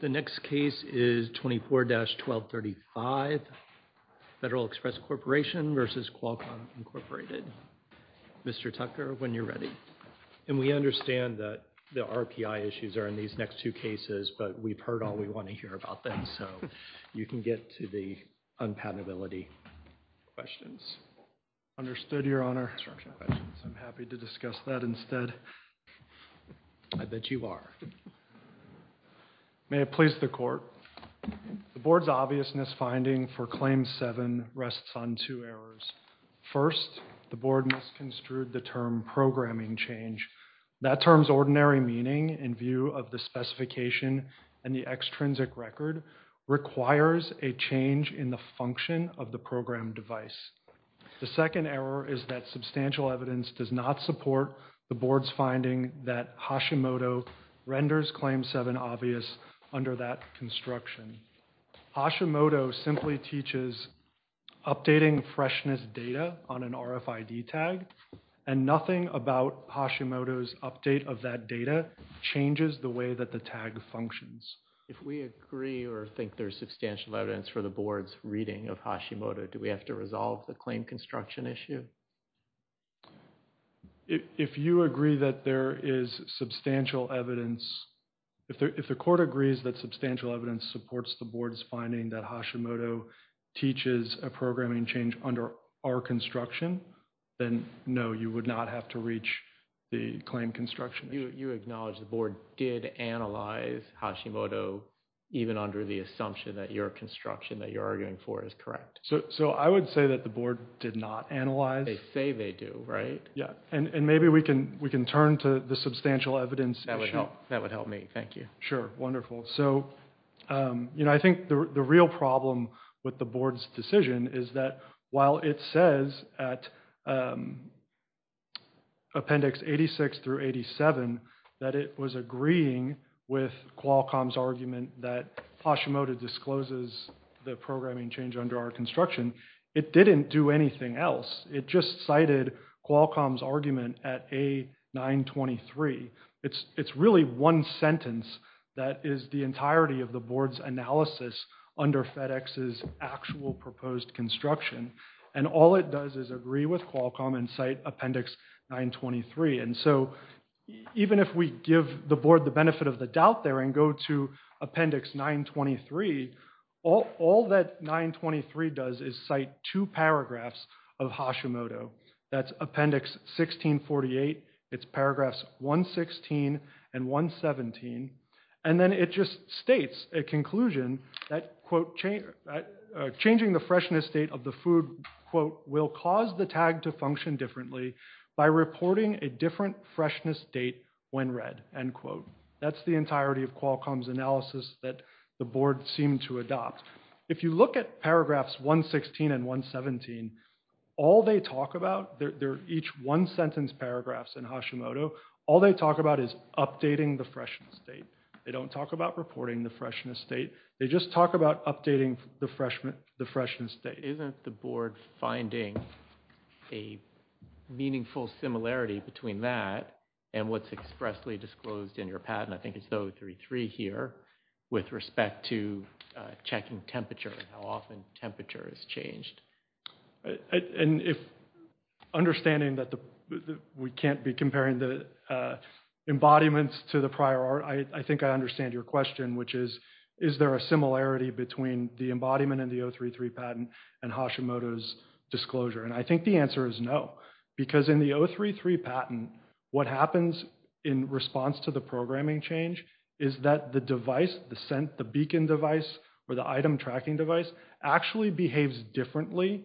The next case is 24-1235 Federal Express Corporation v. Qualcomm Incorporated. Mr. Tucker, when you're ready. And we understand that the RPI issues are in these next two cases, but we've heard all we want to hear about them, so you can get to the unpatentability questions. Understood, Your Honor. I'm happy to discuss that instead. I bet you are. May it please the Court. The Board's obvious misfinding for Claim 7 rests on two errors. First, the Board misconstrued the term programming change. That term's ordinary meaning in view of the specification and the extrinsic record requires a change in the function of the program device. The second error is that substantial evidence does not support the Board's finding that Hashimoto renders Claim 7 obvious under that construction. Hashimoto simply teaches updating freshness data on an RFID tag and nothing about Hashimoto's update of that data changes the way that the tag functions. If we agree or think there's substantial evidence for the Board's reading of Hashimoto, do we have to resolve the claim construction issue? If you agree that there is substantial evidence, if the Court agrees that substantial evidence supports the Board's finding that Hashimoto teaches a programming change under our construction, then no, you would not have to reach the claim construction. You acknowledge the Board did analyze Hashimoto even under the assumption that your construction that you're not analyzing. They say they do, right? Yeah, and maybe we can turn to the substantial evidence. That would help me, thank you. Sure, wonderful. So, you know, I think the real problem with the Board's decision is that while it says at Appendix 86 through 87 that it was agreeing with Qualcomm's argument that Hashimoto discloses the programming change under our construction, it didn't do anything else. It just cited Qualcomm's argument at A923. It's really one sentence that is the entirety of the Board's analysis under FedEx's actual proposed construction and all it does is agree with Qualcomm and cite Appendix 923 and so even if we give the Board the benefit of the doubt there and go to Appendix 923, all that 923 does is cite two paragraphs of Hashimoto. That's Appendix 1648. It's paragraphs 116 and 117 and then it just states a conclusion that quote changing the freshness state of the food quote will cause the tag to function differently by reporting a different freshness date when read end quote. That's the entirety of Qualcomm's analysis that the Board seemed to adopt. If you look at paragraphs 116 and 117, all they talk about, they're each one sentence paragraphs in Hashimoto, all they talk about is updating the freshness state. They don't talk about reporting the freshness state. They just talk about updating the freshness state. Isn't the Board finding a meaningful similarity between that and what's expressly disclosed in your patent, I think it's 033 here, with respect to checking temperature and how often temperature is changed? And if understanding that we can't be comparing the embodiments to the prior art, I think I understand your question which is is there a similarity between the embodiment and the 033 patent and Hashimoto's disclosure? And I think the answer is no because in the 033 patent what happens in response to the programming change is that the device, the scent, the beacon device, or the item tracking device actually behaves differently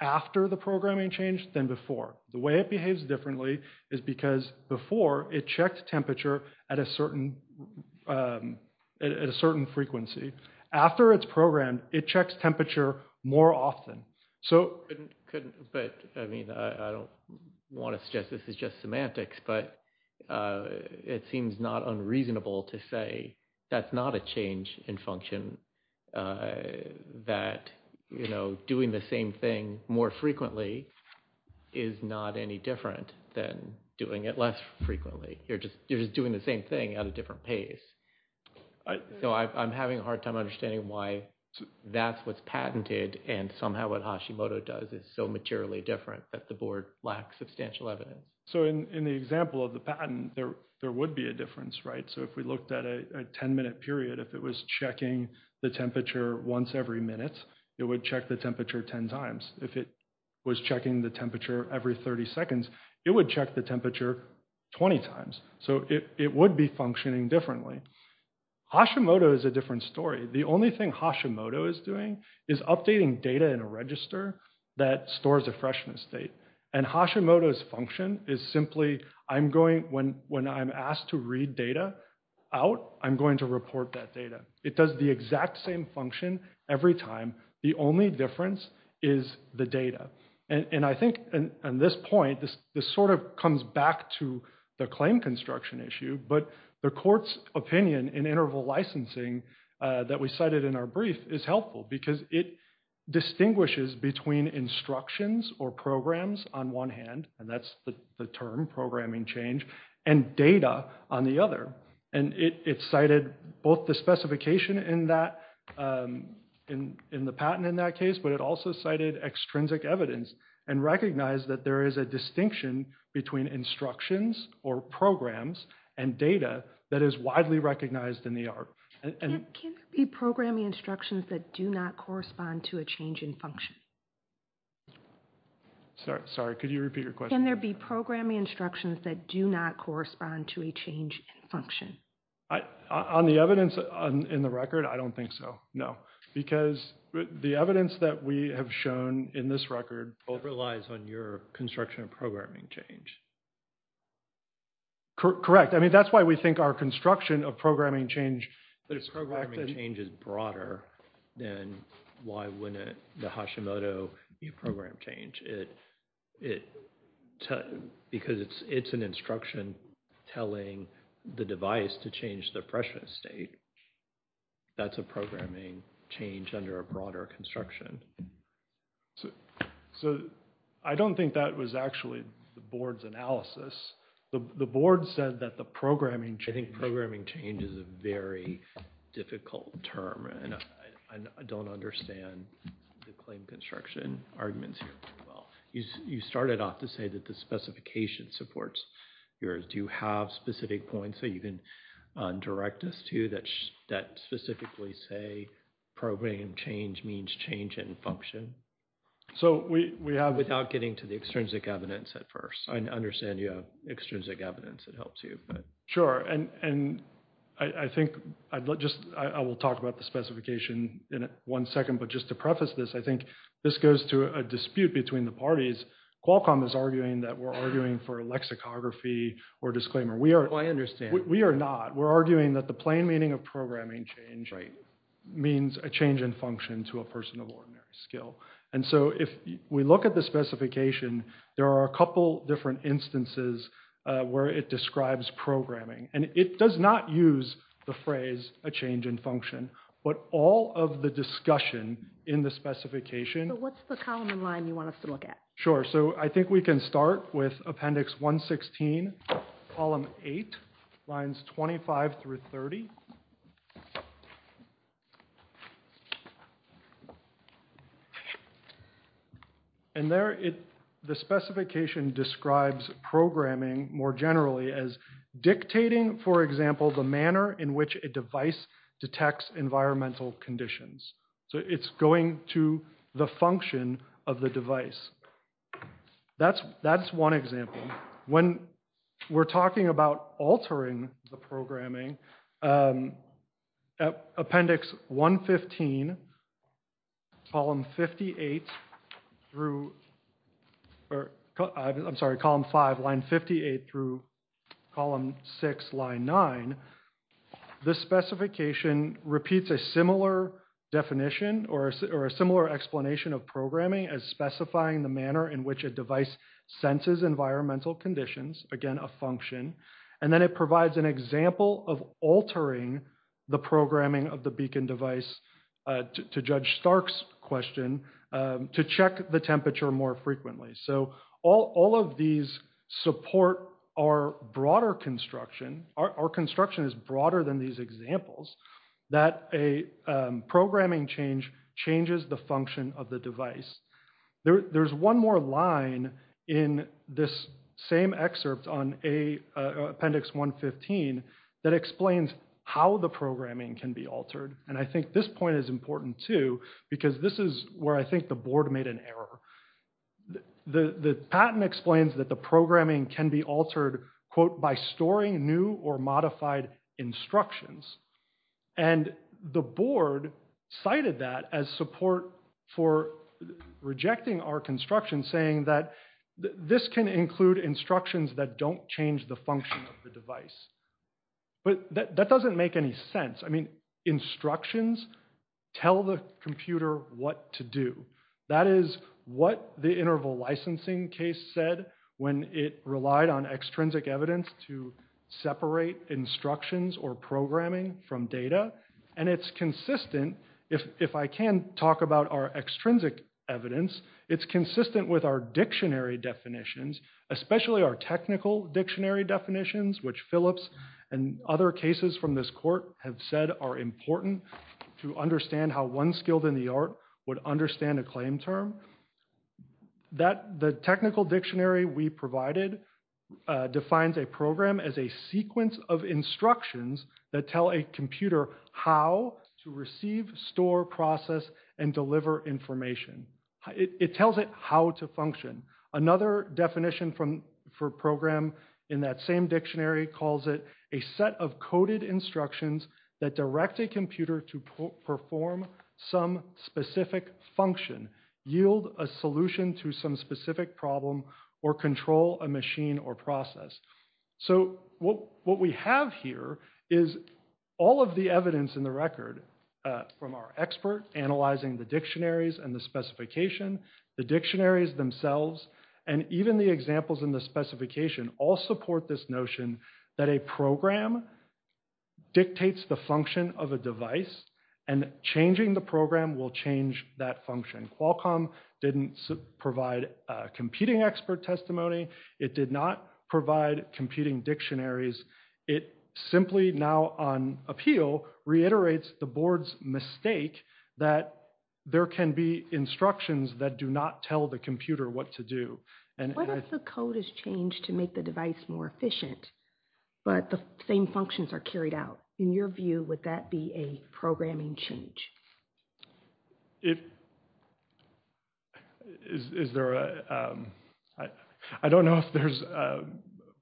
after the programming change than before. The way it behaves differently is because before it checks temperature at a certain frequency. After it's programmed, it checks temperature more often. But I mean, I don't want to suggest this is just semantics, but it seems not unreasonable to say that's not a change in function, that doing the same thing more frequently is not any different than doing it less frequently. You're just doing the same thing at a different pace. So I'm having a hard time understanding why that's what's patented and somehow what Hashimoto does is so materially different that the Board lacks substantial evidence. So in the example of the patent, there would be a difference, right? So if we looked at a 10-minute period, if it was checking the temperature once every minute, it would check temperature 10 times. If it was checking the temperature every 30 seconds, it would check the temperature 20 times. So it would be functioning differently. Hashimoto is a different story. The only thing Hashimoto is doing is updating data in a register that stores a freshness state. And Hashimoto's function is simply, when I'm asked to read data out, I'm going to report that data. It does the exact same function every time. The only difference is the data. And I think on this point, this sort of comes back to the claim construction issue, but the Court's opinion in interval licensing that we cited in our brief is helpful because it distinguishes between instructions or programs on one hand, and that's the term programming change, and data on the other. And it cited both the specification in the patent in that case, but it also cited extrinsic evidence and recognized that there is a distinction between instructions or programs and data that is widely recognized in the art. Can there be programming instructions that do not correspond to a change in function? Sorry, could you repeat your question? Can there be instructions that do not correspond to a change in function? On the evidence in the record, I don't think so. No. Because the evidence that we have shown in this record overlies on your construction of programming change. Correct. I mean, that's why we think our construction of programming change. The programming change is broader than why wouldn't the Hashimoto program change. Because it's an instruction telling the device to change the pressure state. That's a programming change under a broader construction. So I don't think that was actually the Board's analysis. The Board said that the programming change... I think programming change is a very difficult term, and I don't understand the claim construction arguments here very well. You started off to say that the specification supports yours. Do you have specific points that you can direct us to that specifically say programming change means change in function? So we have... Without getting to the extrinsic evidence at first. I understand you have extrinsic evidence that helps you, but... Sure. And I think I will talk about the preface of this. I think this goes to a dispute between the parties. Qualcomm is arguing that we're arguing for a lexicography or disclaimer. Oh, I understand. We are not. We're arguing that the plain meaning of programming change means a change in function to a person of ordinary skill. And so if we look at the specification, there are a couple different instances where it describes programming. And it does not use the phrase a change in function. But all of the discussion in the specification... So what's the column and line you want us to look at? Sure. So I think we can start with Appendix 116, Column 8, Lines 25 through 30. And there, the specification describes programming more generally as dictating, for example, the manner in which a device detects environmental conditions. So it's going to the function of the device. That's one example. When we're talking about altering the programming, Appendix 115, Column 58 through... I'm sorry, Column 5, Line 58 through Column 6, Line 9. This specification repeats a similar definition or a similar explanation of programming as specifying the manner in which a device senses environmental conditions, again, a function. And then it provides an example of altering the programming of the Beacon device, to Judge Stark's question, to check the temperature more frequently. So all of these support our broader construction. Our construction is broader than these examples, that a programming change changes the function of the device. There's one more line in this same excerpt on Appendix 115 that explains how the programming can be altered. And I think this point is important too, because this is where I think the Board made an error. The patent explains that the programming can be altered, quote, by storing new or modified instructions. And the Board cited that as support for rejecting our construction, saying that this can include instructions that don't change the function of the device. But that doesn't make any sense. I mean, instructions tell the computer what to do. That is what the interval licensing case said when it relied on extrinsic evidence to separate instructions or programming from data. And it's consistent, if I can talk about our extrinsic evidence, it's consistent with our dictionary definitions, especially our technical dictionary definitions, which Phillips and other cases from this court have said are important to understand how one skilled in the art would understand a claim term. The technical dictionary we provided defines a program as a sequence of instructions that tell a computer how to receive, store, process, and deliver information. It tells it how to function. Another definition for program in that same dictionary calls it a set of coded instructions that direct a computer to perform some specific function, yield a solution to some problem, or control a machine or process. So what we have here is all of the evidence in the record from our expert analyzing the dictionaries and the specification, the dictionaries themselves, and even the examples in the specification all support this notion that a program dictates the function of a device, and changing the program will change that function. Qualcomm didn't provide competing expert testimony. It did not provide competing dictionaries. It simply now on appeal reiterates the board's mistake that there can be instructions that do not tell the computer what to do. What if the code is changed to make the device more efficient, but the same functions are carried out? In your view, would that be a programming change? I don't know if there's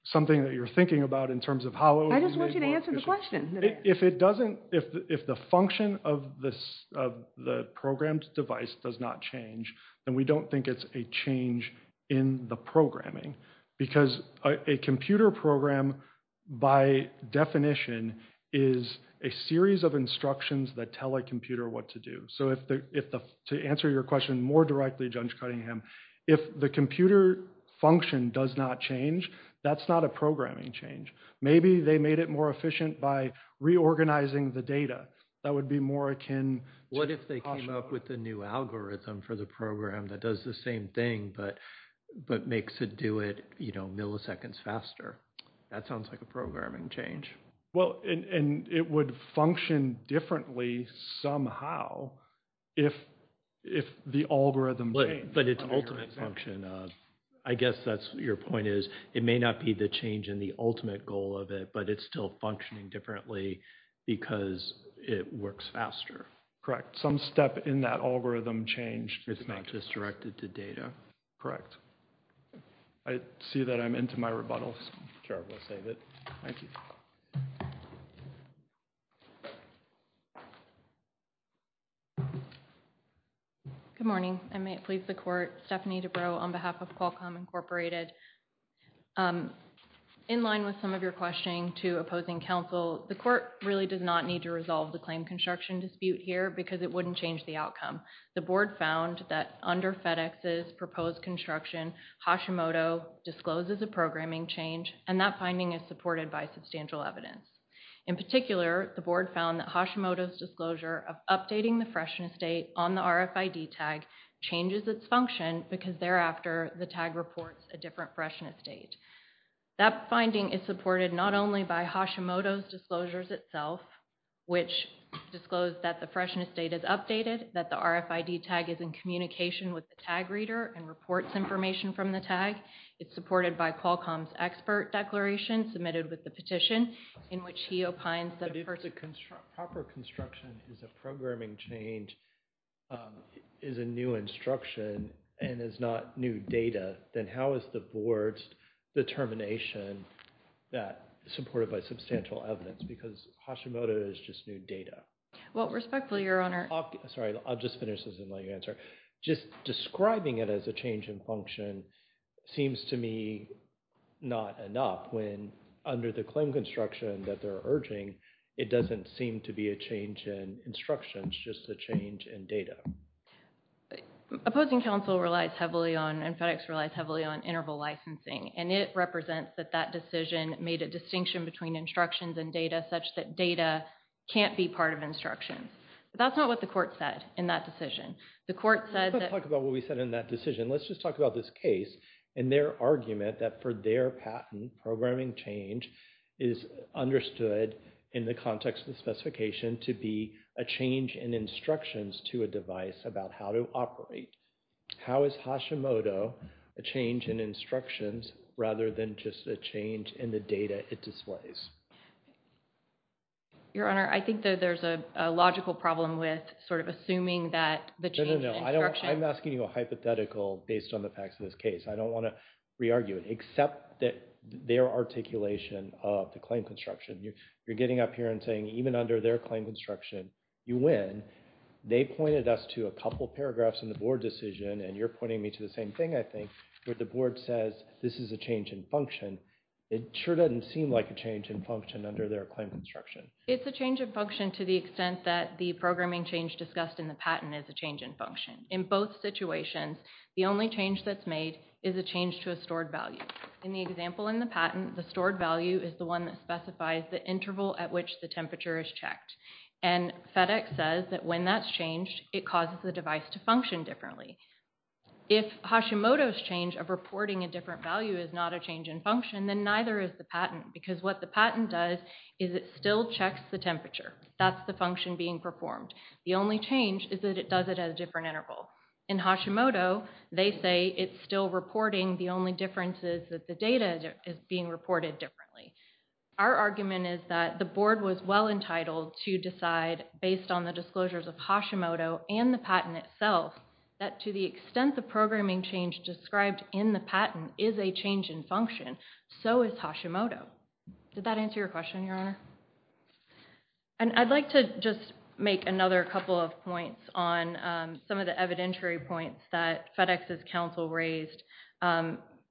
something that you're thinking about in terms of how... I just want you to answer the question. If the function of the programmed device does not change, then we don't think it's a change in the programming, because a computer program by definition is a series of instructions that tell a computer what to do. So to answer your question more directly, Judge Cunningham, if the computer function does not change, that's not a programming change. Maybe they made it more efficient by reorganizing the data. That would be more akin... What if they came up with a new algorithm for the program that does the same thing, but makes it do it, you know, milliseconds faster? That sounds like a programming change. Well, and it would function differently somehow if the algorithm... But it's ultimate function. I guess that's your point is it may not be the change in the ultimate goal of it, but it's still functioning differently because it works faster. Correct. Some step in that algorithm changed. It's not just directed to data. Correct. I see that I'm into my rebuttal, so I'm careful to save it. Thank you. Good morning. I may please the court. Stephanie Dubrow on behalf of Qualcomm Incorporated. In line with some of your questioning to opposing counsel, the court really does not need to resolve the claim construction dispute here because it wouldn't change the outcome. The board found that under FedEx's proposed construction, Hashimoto discloses a programming change, and that finding is supported by substantial evidence. In particular, the board found that Hashimoto's disclosure of updating the freshness date on the RFID tag changes its function because thereafter the tag reports a different freshness date. That finding is supported not only by Hashimoto's disclosures itself, which disclosed that the freshness date is updated, that the RFID tag is in communication with the tag reader and reports information from the tag. It's supported by Qualcomm's expert declaration submitted with the petition in which he opines that if the proper construction is a programming change is a new instruction and is not new data, then how is the board's determination that supported by substantial evidence because Hashimoto is just new data? Well, respectfully, your honor. Sorry, I'll just finish this and let you answer. Just describing it as a change in function seems to me not enough when under the claim construction that they're urging, it doesn't seem to be a change in instructions, just a change in data. Opposing counsel relies heavily on and FedEx relies heavily on interval licensing, and it represents that that decision made a distinction between instructions and data such that data can't be part of instructions. That's not what the court said in that decision. The court said that... Let's not talk about what we said in that decision. Let's just talk about this case and their argument that for their patent programming change is understood in the context of the specification to be a change in instructions to a device about how to operate. How is Hashimoto a change in instructions rather than just a change in the data it displays? Your honor, I think that there's a logical problem with sort of assuming that the change... No, no, no. I'm asking you a hypothetical based on the facts of this case. I don't want to re-argue it except that their articulation of the claim construction. You're getting up here and saying even under their claim construction, you win. They pointed us to a couple paragraphs in the board decision, and you're pointing me to the same thing, I think, where the board says this is a change in function. It sure doesn't seem like a change in function under their claim construction. It's a change of function to the extent that the programming change discussed in the patent is a change in function. In both situations, the only change that's made is a change to a stored value. In the example in the patent, the stored value is the one that specifies the interval at which the temperature is checked, and FedEx says that when that's changed, it causes the device to function differently. If Hashimoto's change of reporting a different value is not a change in function, then neither is the patent, because what the patent does is it still checks the temperature. That's the function being performed. The only change is that it does it at a different interval. In Hashimoto, they say it's still reporting. The only difference is that the data is being reported differently. Our argument is that the board was well-entitled to decide, based on the disclosures of Hashimoto and the patent itself, that to the extent the programming change described in the patent is a change in function, so is Hashimoto. Did that answer your question, Your Honor? And I'd like to just make another couple of points on some of the evidentiary points that FedEx's counsel raised.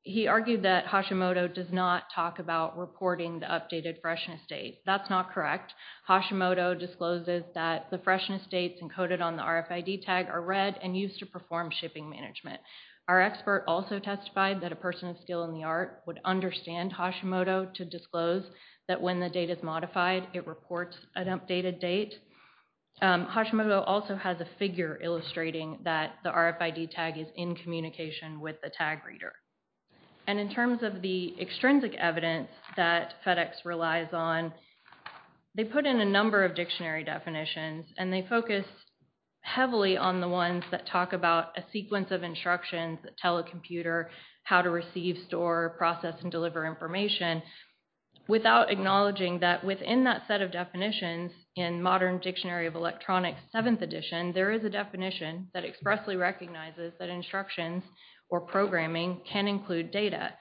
He argued that Hashimoto does not talk about reporting the updated freshness date. That's not correct. Hashimoto discloses that the freshness dates encoded on the RFID tag are read and used to perform shipping management. Our expert also testified that a person of skill in the art would understand Hashimoto to disclose that when the date is modified, it reports an updated date. Hashimoto also has a figure illustrating that the RFID tag is in communication with the tag reader. And in terms of the extrinsic evidence that FedEx relies on, they put in a number of dictionary definitions and they focus heavily on the ones that talk about a sequence of instructions that tell a computer how to receive, store, process, and deliver information without acknowledging that within that set of definitions in modern Dictionary of Electronics 7th edition, there is a definition that expressly recognizes that instructions or programming can include data.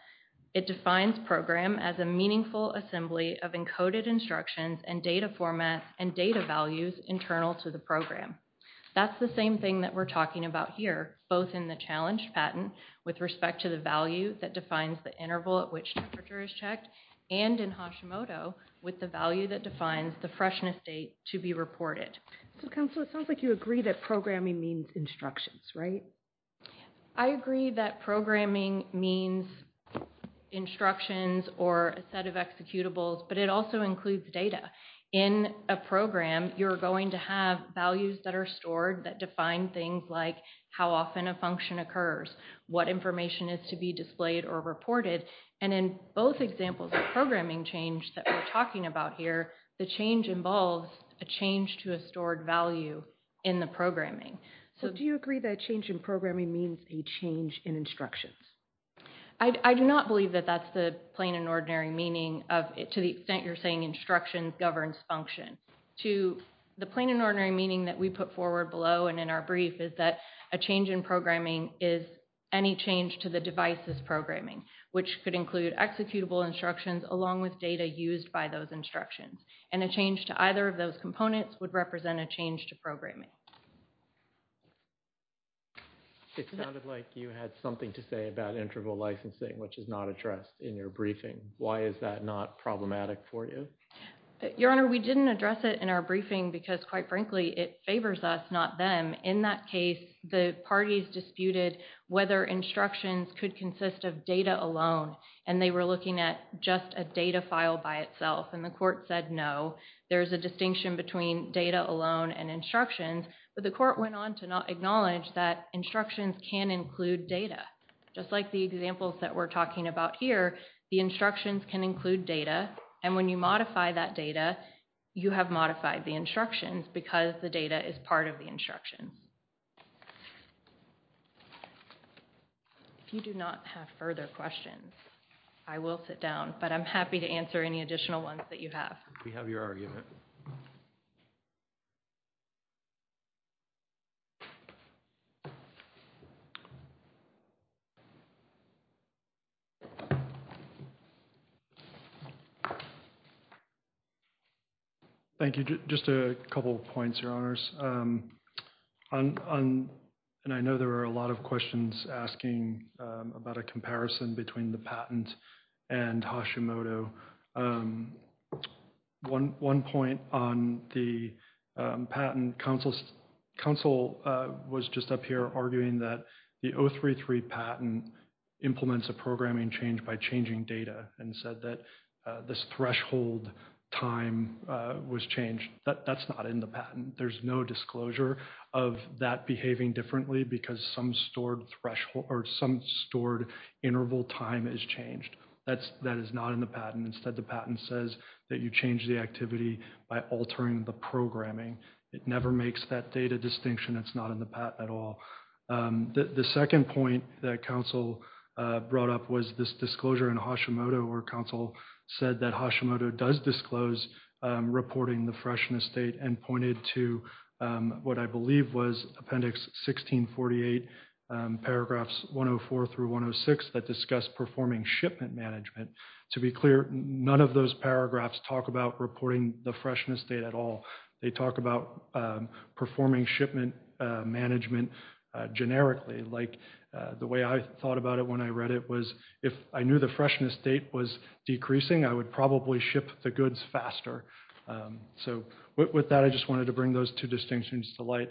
It defines program as a meaningful assembly of encoded instructions and data formats and data values internal to the program. That's the same thing that we're talking about here, both in the challenge patent with respect to the value that defines the interval at which temperature is checked and in Hashimoto with the value that defines the freshness date to be reported. So Counselor, it sounds like you agree that programming means instructions, right? I agree that programming means instructions or a set of executables, but it also includes data. In a program, you're going to have values that are stored that define things like how often a function occurs, what information is to be displayed or reported, and in both examples of programming change that we're talking about here, the change involves a change to a stored value in the programming. So do you agree that change in programming means a change in instructions? I do not believe that that's the plain and ordinary meaning of it to the extent you're saying instructions governs function. To the plain and ordinary meaning that we put forward below and in our brief is that a change in programming is any change to the device's programming, which could include executable instructions along with data used by those instructions, and a change to either of those components would represent a change to programming. It sounded like you had something to say about interval licensing, which is not addressed in your briefing. Why is that not problematic for you? Your Honor, we didn't address it in our briefing because quite frankly it favors us, not them. In that case, the parties disputed whether instructions could consist of data alone, and they were looking at just a data file by itself, and the court said no. There's a distinction between data alone and instructions, but the court went on to acknowledge that instructions can include data. Just like the examples that we're talking about here, the instructions can include data, and when you modify that data, you have the instructions because the data is part of the instructions. If you do not have further questions, I will sit down, but I'm happy to answer any additional ones that you have. We have your argument. Thank you. Just a couple of points, Your Honors. I know there are a lot of questions asking about a comparison between the patent and Hashimoto. One point on the patent, counsel was just up here arguing that the 033 patent implements a programming change by changing data and said that this threshold time was changed. That's not in the patent. There's no disclosure of that behaving differently because some stored interval time is changed. That is not in the patent. Instead, the patent says that you change the activity by altering the programming. It never makes that data distinction. It's not in the patent at all. The second point that counsel brought up was this disclosure in Hashimoto, where counsel said that Hashimoto does disclose reporting the freshness date and pointed to what I believe was Appendix 1648, paragraphs 104 through 106 that discuss performing shipment management. To be clear, none of those paragraphs talk about reporting the freshness date at all. They talk about performing shipment management generically. The way I thought about it when I read it was, if I knew the freshness date was decreasing, I would probably ship the goods faster. With that, I just wanted to bring those two distinctions to light.